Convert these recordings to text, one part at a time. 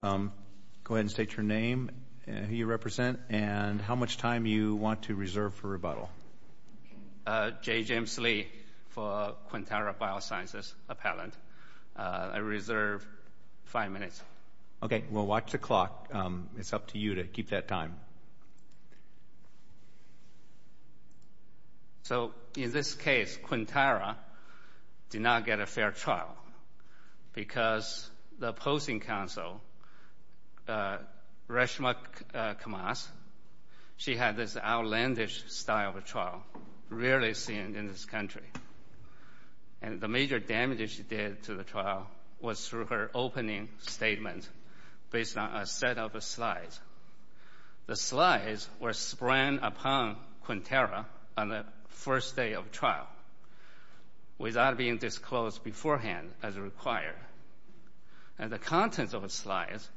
Go ahead and state your name, who you represent, and how much time you want to reserve for rebuttal. J. James Lee for Quintara Biosciences Appellant. I reserve five minutes. Okay. Well, watch the clock. It's up to you to keep that time. So, in this case, Quintara did not get a fair trial because the opposing counsel, Reshma Kamas, she had this outlandish style of trial, rarely seen in this country. And the major damage she did to the trial was through her opening statement based on a set of slides. The slides were spread upon Quintara on the first day of trial without being disclosed beforehand as required. And the contents of the slides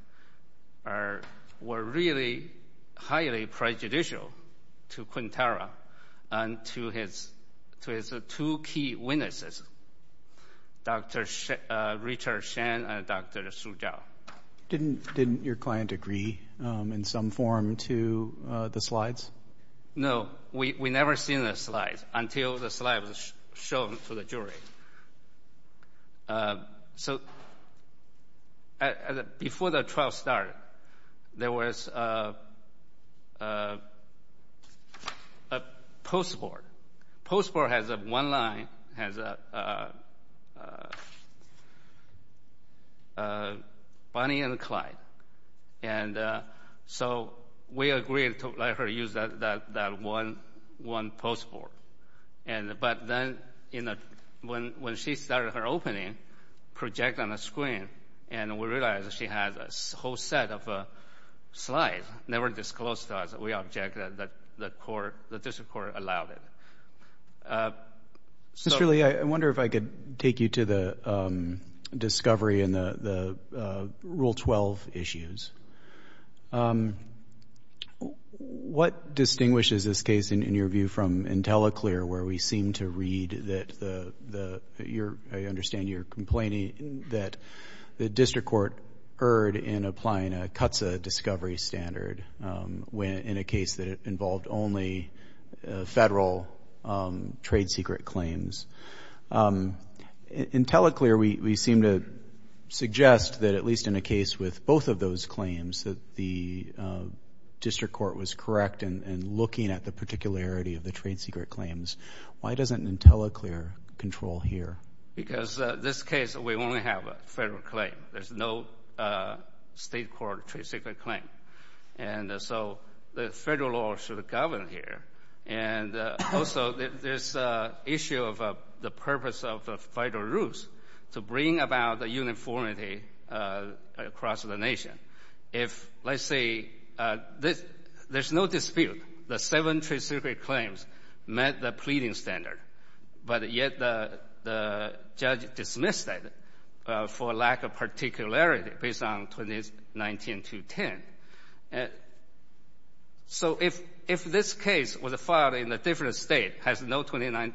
were really highly prejudicial to Quintara and to his two key witnesses, Dr. Richard Shen and Dr. Su Zhao. Didn't your client agree in some form to the slides? No. We never seen the slides until the slides were shown to the jury. So, before the trial started, there was a post board. Post board has one line, has Bonnie and Clyde. And so, we agreed to let her use that one post board. But then, when she started her opening, projected on the screen, and we realized she had a whole set of slides, never disclosed to us. We object that the district court allowed it. Mr. Li, I wonder if I could take you to the discovery in the Rule 12 issues. What distinguishes this case, in your view, from IntelliClear, where we seem to read that you're, I understand you're complaining that the district court erred in applying a CUTSA discovery standard in a case that involved only federal trade secret claims. In IntelliClear, we seem to suggest that, at least in a case with both of those claims, that the district court was correct in looking at the particularity of the trade secret claims. Why doesn't IntelliClear control here? Because this case, we only have a federal claim. There's no state court trade secret claim. And so, the federal law should govern here. And also, there's an issue of the purpose of the federal rules to bring about the uniformity across the nation. If, let's say, there's no dispute that seven trade secret claims met the pleading standard, but yet the judge dismissed it for lack of particularity based on 19-10. So, if this case was filed in a different state, has no equivalent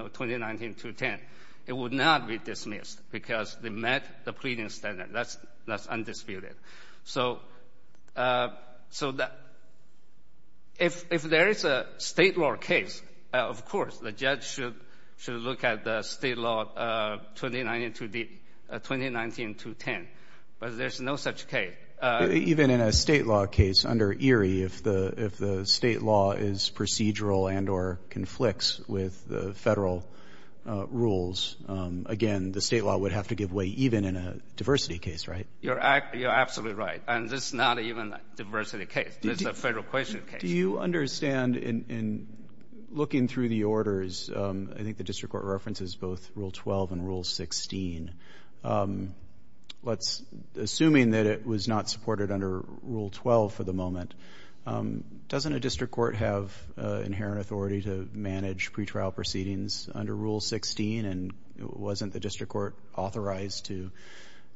of 20-19-2-10, it would not be dismissed because they met the pleading standard. That's undisputed. So, if there is a state law case, of course, the judge should look at the state law 20-19-2-10. But there's no such case. Even in a state law case under Erie, if the state law is procedural and or conflicts with the federal rules, again, the state law would have to give way even in a diversity case, right? You're absolutely right. And this is not even a diversity case. This is a federal question case. Do you understand, in looking through the orders, I think the district court references both Rule 12 and Rule 16. Assuming that it was not supported under Rule 12 for the moment, doesn't a district court have inherent authority to manage pretrial proceedings under Rule 16? And wasn't the district court authorized to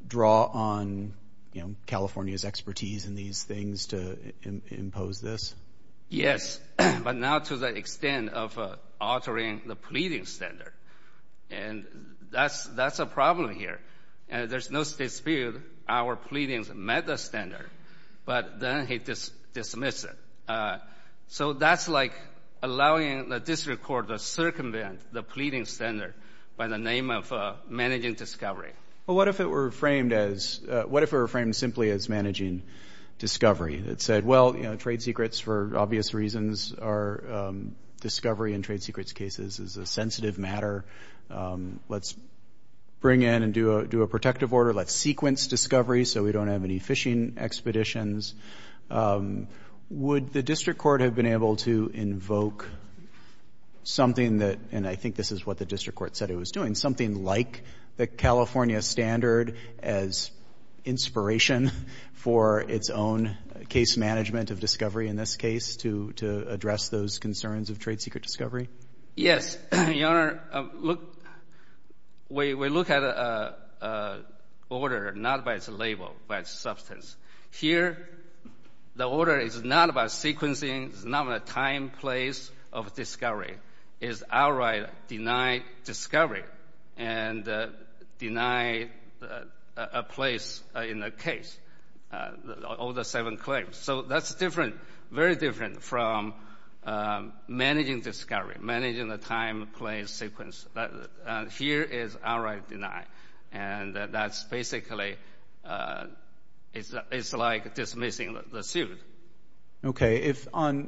draw on California's expertise in these things to impose this? Yes, but not to the extent of altering the pleading standard. And that's a problem here. There's no dispute our pleadings met the standard, but then he dismissed it. So that's like allowing the district court to circumvent the pleading standard by the name of managing discovery. Well, what if it were framed simply as managing discovery? It said, well, you know, trade secrets, for obvious reasons, are discovery in trade secrets cases is a sensitive matter. Let's bring in and do a protective order. Let's sequence discovery so we don't have any fishing expeditions. Would the district court have been able to invoke something that, and I think this is what the district court said it was doing, something like the California standard as inspiration for its own case management of discovery in this case to address those concerns of trade secret discovery? Yes, Your Honor. Look, we look at an order not by its label, by its substance. Here, the order is not about sequencing. It's not a time, place of discovery. It's outright deny discovery and deny a place in the case, all the seven claims. So that's different, very different from managing discovery, managing the time, place, sequence. Here is outright deny, and that's basically, it's like dismissing the suit. Okay.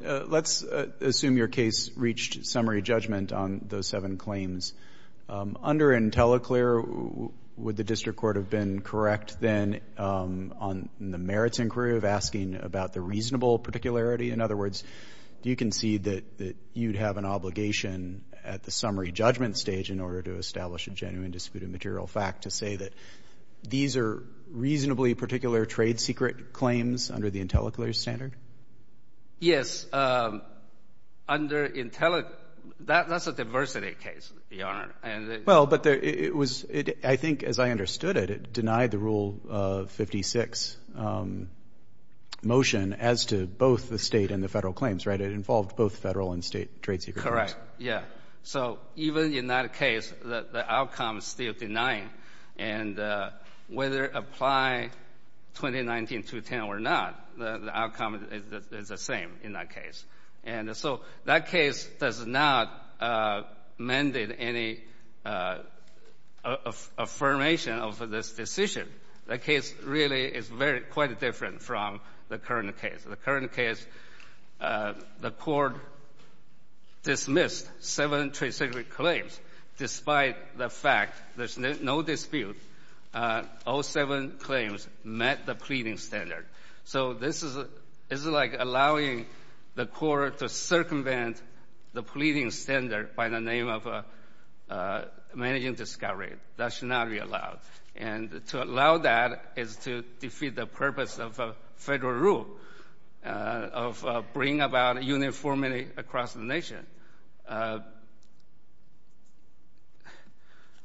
Let's assume your case reached summary judgment on those seven claims. Under IntelliClear, would the district court have been correct, then, on the merits inquiry of asking about the reasonable particularity? In other words, do you concede that you'd have an obligation at the summary judgment stage in order to establish a genuine dispute of material fact to say that these are reasonably particular trade secret claims under the IntelliClear standard? Yes. Under IntelliClear, that's a diversity case, Your Honor. Well, but it was, I think, as I understood it, it denied the Rule 56 motion as to both the state and the federal claims, right? It involved both federal and state trade secret claims. Correct, yeah. So even in that case, the outcome is still denying. And whether apply 2019-2010 or not, the outcome is the same in that case. And so that case does not mandate any affirmation of this decision. The case really is quite different from the current case. The current case, the court dismissed seven trade secret claims despite the fact there's no dispute. All seven claims met the pleading standard. So this is like allowing the court to circumvent the pleading standard by the name of managing discovery. That should not be allowed. And to allow that is to defeat the purpose of federal rule of bringing about uniformity across the nation.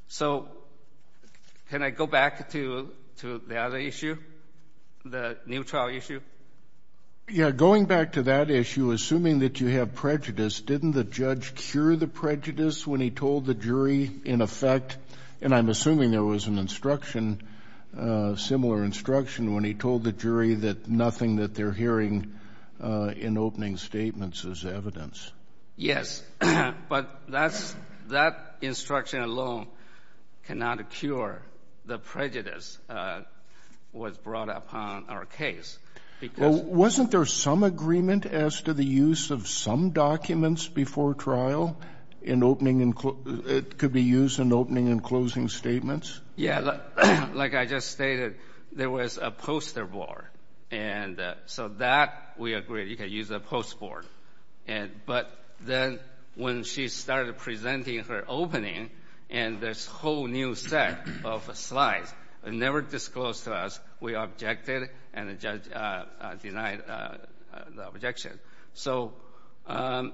So can I go back to the other issue, the new trial issue? Yeah, going back to that issue, assuming that you have prejudice, didn't the judge cure the prejudice when he told the jury, in effect, and I'm assuming there was an instruction, similar instruction, when he told the jury that nothing that they're hearing in opening statements is evidence. Yes, but that instruction alone cannot cure the prejudice was brought upon our case. Wasn't there some agreement as to the use of some documents before trial in opening and it could be used in opening and closing statements? Yeah, like I just stated, there was a poster board. And so that we agreed you could use a post board. But then when she started presenting her opening and this whole new set of slides, it never disclosed to us we objected and the judge denied the objection. So the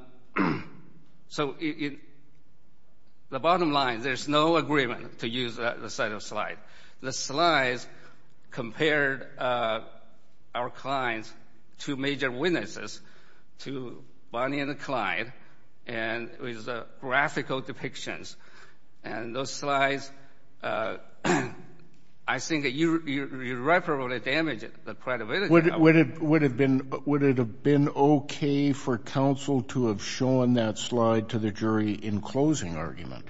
bottom line, there's no agreement to use the set of slides. The slides compared our clients to major witnesses, to Bonnie and Clyde, and it was graphical depictions. And those slides, I think, irreparably damaged the credibility. Would it have been okay for counsel to have shown that slide to the jury in closing argument?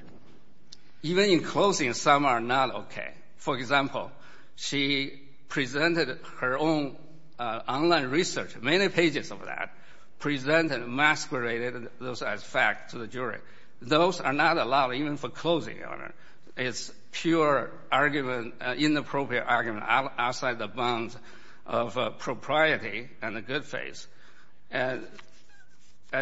Even in closing, some are not okay. For example, she presented her own online research, many pages of that, presented and masqueraded those as facts to the jury. Those are not allowed even for closing argument. It's pure argument, inappropriate argument outside the bounds of propriety and a good face. And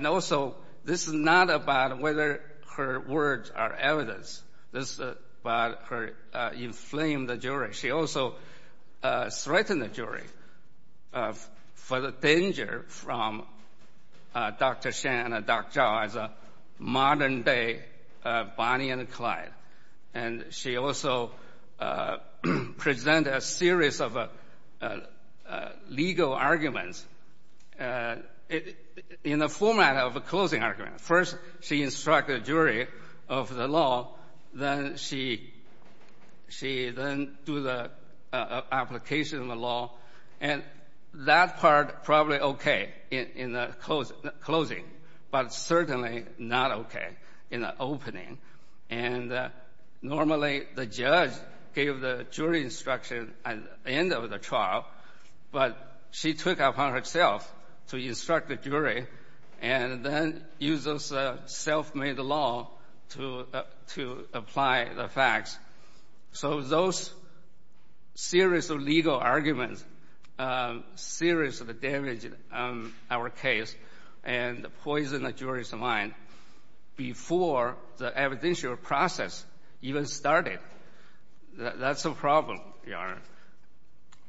also, this is not about whether her words are evidence. This is about her inflame the jury. She also threatened the jury for the danger from Dr. Shen and Dr. Zhao as a modern day Bonnie and Clyde. And she also presented a series of legal arguments in the format of a closing argument. First, she instructed a jury of the law. Then she then do the application of the law. And that part probably okay in the closing, but certainly not okay in the opening. And normally, the judge gave the jury instruction at the end of the trial, but she took it upon herself to instruct the jury and then use those self-made law to apply the facts. So those series of legal arguments seriously damaged our case and poisoned the jury's mind before the evidential process even started. That's a problem, Your Honor.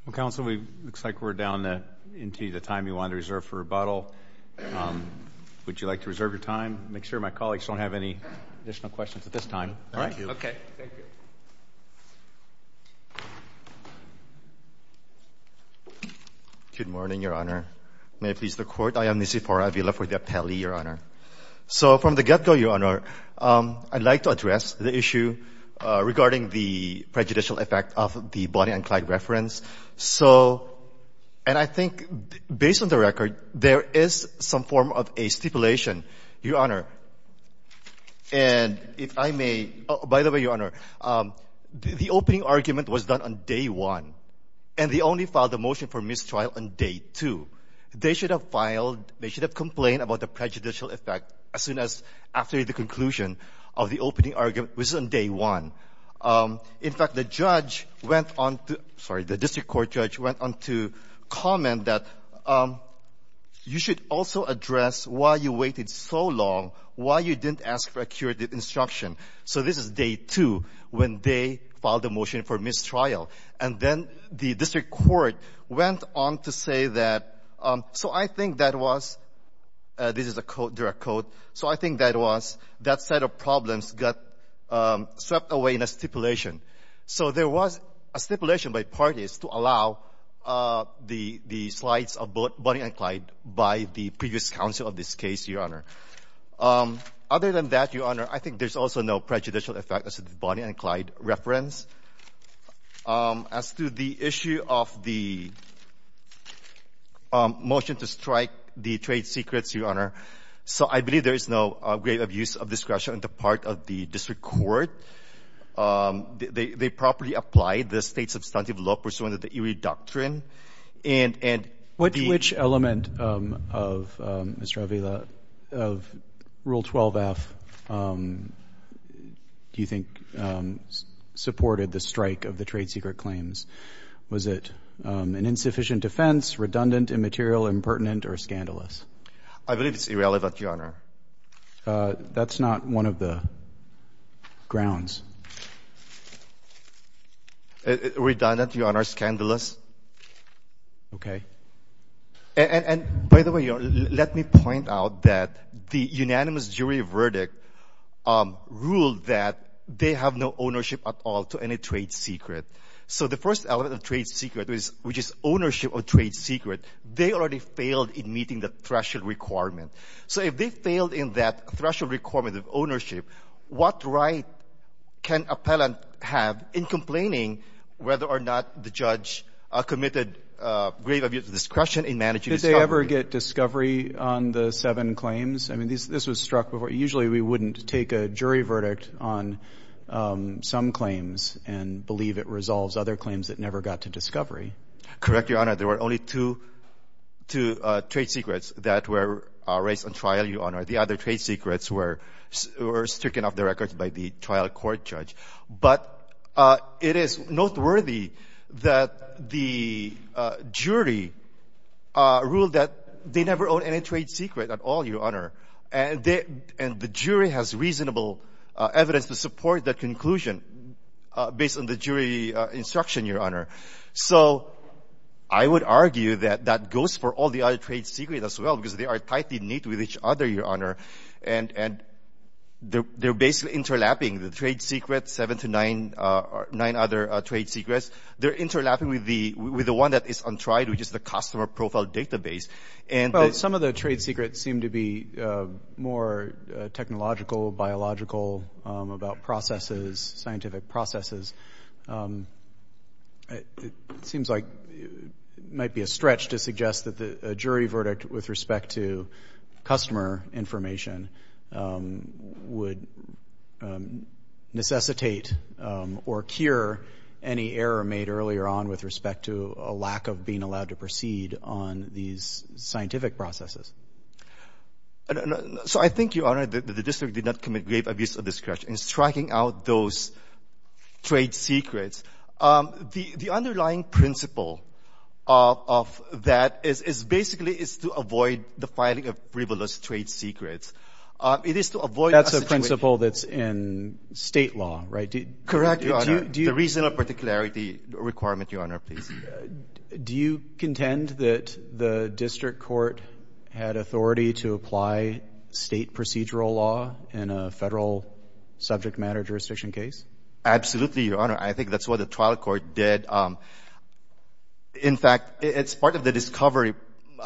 Well, Counsel, it looks like we're down into the time you want to reserve for rebuttal. Would you like to reserve your time? Make sure my colleagues don't have any additional questions at this time. Thank you. Okay. Thank you. Good morning, Your Honor. May it please the Court. I am Nisif Hora. I will be left with the appellee, Your Honor. So from the get-go, Your Honor, I'd like to address the issue regarding the prejudicial effect of the Bonnie and Clyde reference. So, and I think, based on the record, there is some form of a stipulation, Your Honor. And if I may, by the way, Your Honor, the opening argument was done on day one, and they only filed the motion for mistrial on day two. They should have filed, they should have complained about the prejudicial effect as soon as after the conclusion of the opening argument was on day one. In fact, the judge went on to — sorry, the district court judge went on to comment that you should also address why you waited so long, why you didn't ask for a curative instruction. So this is day two when they filed the motion for mistrial. And then the district court went on to say that — so I think that was — this is a direct quote. So I think that was that set of problems got swept away in a stipulation. So there was a stipulation by parties to allow the slides of Bonnie and Clyde by the previous counsel of this case, Your Honor. Other than that, Your Honor, I think there's also no prejudicial effect as to the Bonnie and Clyde reference. As to the issue of the motion to strike the trade secrets, Your Honor, so I believe there is no grave abuse of discretion on the part of the district court. They properly applied the State substantive law pursuant to the Erie Doctrine. And the — I believe it's irrelevant, Your Honor. That's not one of the grounds. Redundant, Your Honor. Scandalous. Okay. And by the way, Your Honor, let me point out that the unanimous jury verdict ruled that they have no oversight over the case. So the first element of trade secret, which is ownership of trade secret, they already failed in meeting the threshold requirement. So if they failed in that threshold requirement of ownership, what right can appellant have in complaining whether or not the judge committed grave abuse of discretion in managing discovery? Did they ever get discovery on the seven claims? I mean, this was struck before. Usually we wouldn't take a jury verdict on some claims and believe it resolves other claims that never got to discovery. Correct, Your Honor. There were only two trade secrets that were raised on trial, Your Honor. The other trade secrets were stricken off the records by the trial court judge. But it is noteworthy that the jury ruled that they never owed any trade secret at all, Your Honor. And the jury has reasonable evidence to support that conclusion based on the jury instruction, Your Honor. So I would argue that that goes for all the other trade secrets as well, because they are tightly knit with each other, Your Honor. And they're basically interlapping, the trade secrets, seven to nine other trade secrets. They're interlapping with the one that is untried, which is the customer profile database. Well, some of the trade secrets seem to be more technological, biological, about processes, scientific processes. It seems like it might be a stretch to suggest that a jury verdict with respect to customer information would necessitate or cure any error made earlier on with respect to a lack of being allowed to proceed on these scientific processes. So I think, Your Honor, that the district did not commit grave abuse of discretion in striking out those trade secrets. The underlying principle of that is basically is to avoid the filing of frivolous trade secrets. It is to avoid a situation of – That's a principle that's in State law, right? Correct, Your Honor. The reason of particularity requirement, Your Honor, please. Do you contend that the district court had authority to apply State procedural law in a Federal subject matter jurisdiction case? Absolutely, Your Honor. I think that's what the trial court did. In fact, it's part of the discovery –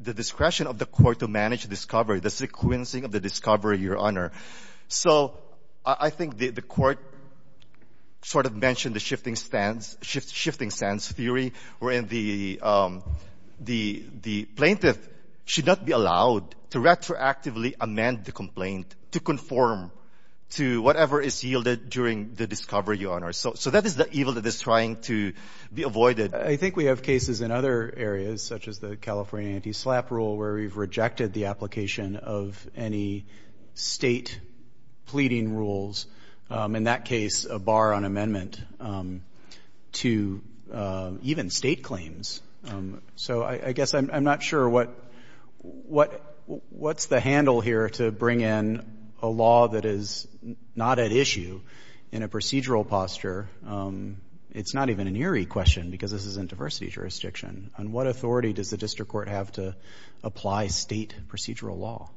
the discretion of the court to manage discovery, the sequencing of the discovery, Your Honor. So I think the court sort of mentioned the shifting stance theory wherein the plaintiff should not be allowed to retroactively amend the complaint to conform to whatever is yielded during the discovery, Your Honor. So that is the evil that is trying to be avoided. I think we have cases in other areas, such as the California anti-SLAPP rule, where you've rejected the application of any State pleading rules. In that case, a bar on amendment to even State claims. So I guess I'm not sure what's the handle here to bring in a law that is not at issue in a procedural posture. It's not even an eerie question because this is in diversity jurisdiction. On what authority does the district court have to apply State procedural law?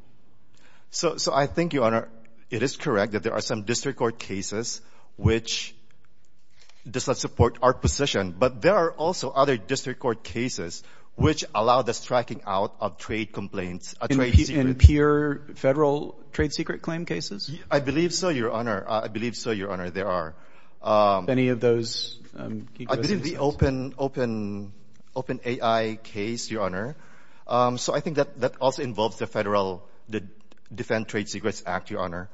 So I think, Your Honor, it is correct that there are some district court cases which does not support our position, but there are also other district court cases which allow the striking out of trade complaints. In pure Federal trade secret claim cases? I believe so, Your Honor. I believe so, Your Honor. There are. Any of those? I believe the open AI case, Your Honor. So I think that also involves the Federal Defend Trade Secrets Act, Your Honor,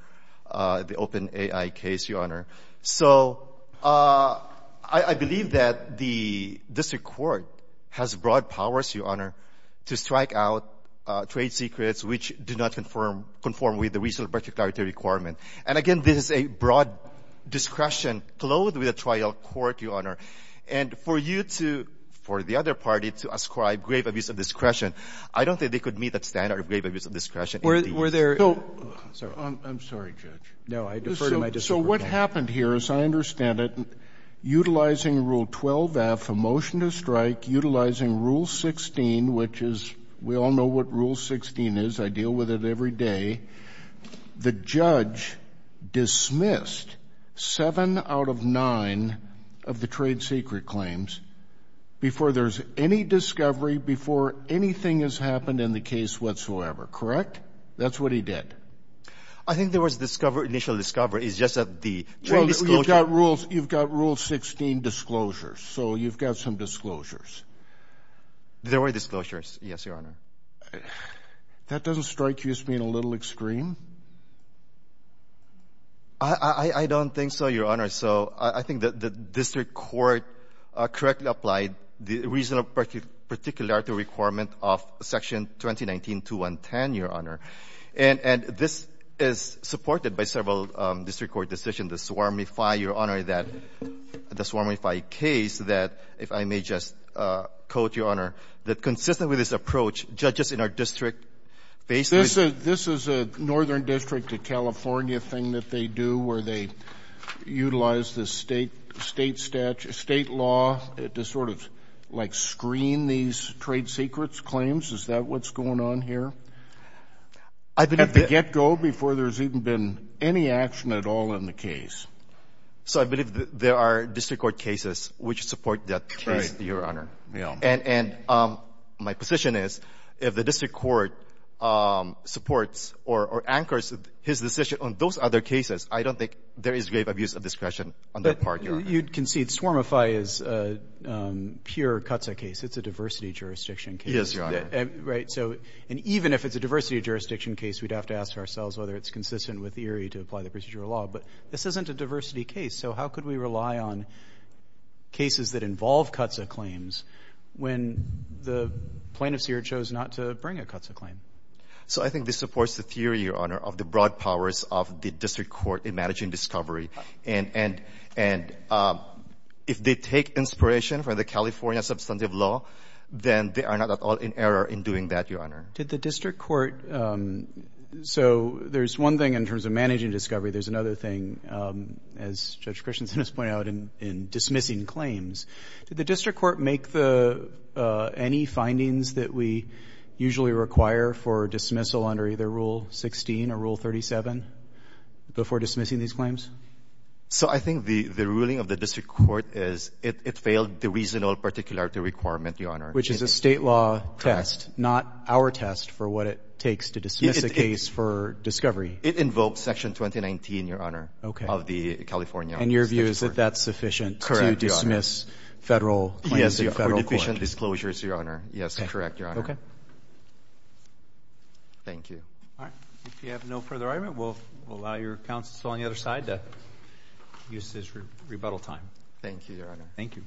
the open AI case, Your Honor. So I believe that the district court has broad powers, Your Honor, to strike out trade secrets which do not conform with the reasonable particularity requirement. And again, this is a broad discretion clothed with a trial court, Your Honor. And for you to – for the other party to ascribe grave abuse of discretion, I don't think they could meet that standard of grave abuse of discretion. Were there – I'm sorry, Judge. No, I defer to my district counsel. So what happened here, as I understand it, utilizing Rule 12-F, a motion to strike, utilizing Rule 16, which is – we all know what Rule 16 is. I deal with it every day. The judge dismissed seven out of nine of the trade secret claims before there's any discovery, before anything has happened in the case whatsoever, correct? That's what he did. I think there was initial discovery. It's just that the trade disclosure – Well, you've got Rule 16 disclosures. So you've got some disclosures. There were disclosures, yes, Your Honor. That doesn't strike you as being a little extreme? I don't think so, Your Honor. So I think the district court correctly applied the reasonable particularity requirement of Section 2019-2110, Your Honor. And this is supported by several district court decisions that swarmify, Your Honor, that – the swarmify case that, if I may just quote, Your Honor, that consistent with this approach, judges in our district face this. This is a Northern District of California thing that they do where they utilize the State statute – State law to sort of like screen these trade secrets claims? Is that what's going on here? At the get-go before there's even been any action at all in the case. So I believe there are district court cases which support that case, Your Honor. And my position is if the district court supports or anchors his decision on those other cases, I don't think there is grave abuse of discretion on that part, Your Honor. But you concede swarmify is a pure CUTSA case. It's a diversity jurisdiction case. Yes, Your Honor. Right? And even if it's a diversity jurisdiction case, we'd have to ask ourselves whether it's consistent with eerie to apply the procedural law. But this isn't a diversity case. So how could we rely on cases that involve CUTSA claims when the plaintiff here chose not to bring a CUTSA claim? So I think this supports the theory, Your Honor, of the broad powers of the district court in managing discovery. And if they take inspiration from the California substantive law, then they are not at all in error in doing that, Your Honor. Did the district court – so there's one thing in terms of managing discovery. There's another thing, as Judge Christensen has pointed out, in dismissing claims. Did the district court make any findings that we usually require for dismissal under either Rule 16 or Rule 37 before dismissing these claims? So I think the ruling of the district court is it failed the reasonable particularity requirement, Your Honor. Which is a state law test, not our test for what it takes to dismiss a case for discovery. It invokes Section 2019, Your Honor, of the California district court. And your view is that that's sufficient to dismiss federal claims before the federal court. Yes, for deficient disclosures, Your Honor. Yes, correct, Your Honor. Thank you. All right. If you have no further argument, we'll allow your counsel on the other side to use this rebuttal time. Thank you, Your Honor. Thank you.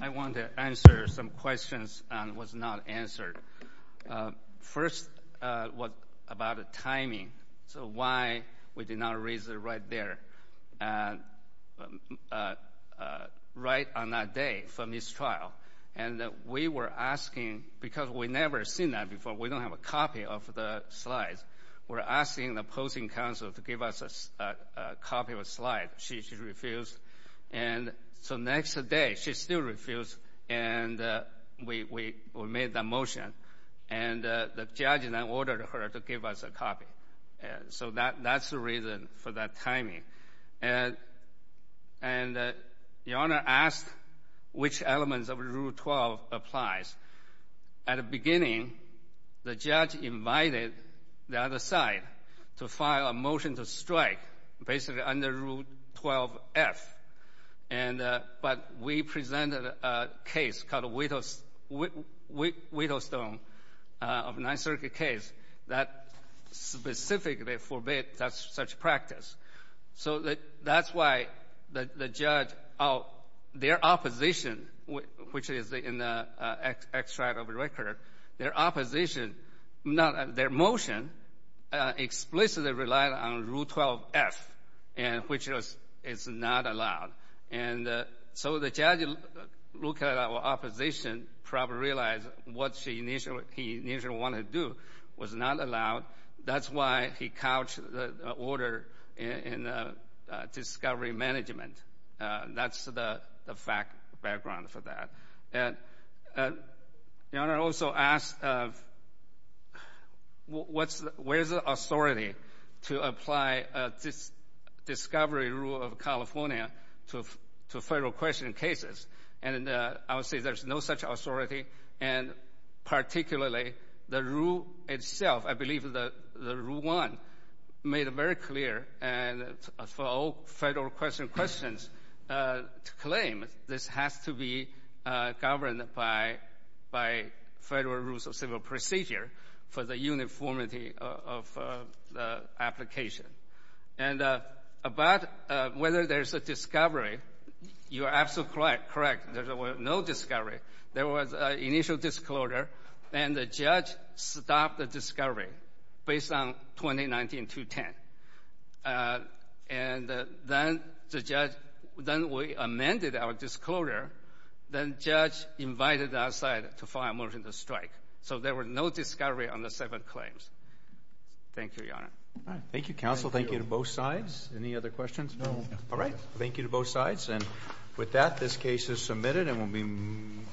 I want to answer some questions that were not answered. First, about the timing. So why we did not raise it right there, right on that day from this trial. And we were asking – because we've never seen that before. We don't have a copy of the slides. We're asking the opposing counsel to give us a copy of a slide. She refused. And so next day, she still refused, and we made the motion. And the judge then ordered her to give us a copy. So that's the reason for that timing. And Your Honor asked which elements of Rule 12 applies. At the beginning, the judge invited the other side to file a motion to strike, basically under Rule 12-F. But we presented a case called Whittlestone of a Ninth Circuit case that specifically forbids such practice. So that's why the judge – their opposition, which is in the extract of the record, their opposition – their motion explicitly relied on Rule 12-F, which is not allowed. And so the judge looked at our opposition, probably realized what he initially wanted to do was not allowed. That's why he couched the order in discovery management. That's the background for that. Your Honor also asked where is the authority to apply this discovery rule of California to federal questioning cases. And I would say there's no such authority. And particularly, the rule itself, I believe the Rule 1, made it very clear for all federal questions to claim this has to be governed by federal rules of civil procedure for the uniformity of the application. And about whether there's a discovery, you're absolutely correct. There was no discovery. There was an initial disclosure, and the judge stopped the discovery based on 2019-2010. And then the judge – then we amended our disclosure. Then the judge invited us to file a motion to strike. So there was no discovery on the seven claims. Thank you, Your Honor. Thank you, counsel. Thank you to both sides. Any other questions? No. All right. Thank you to both sides. And with that, this case is submitted and will be moved.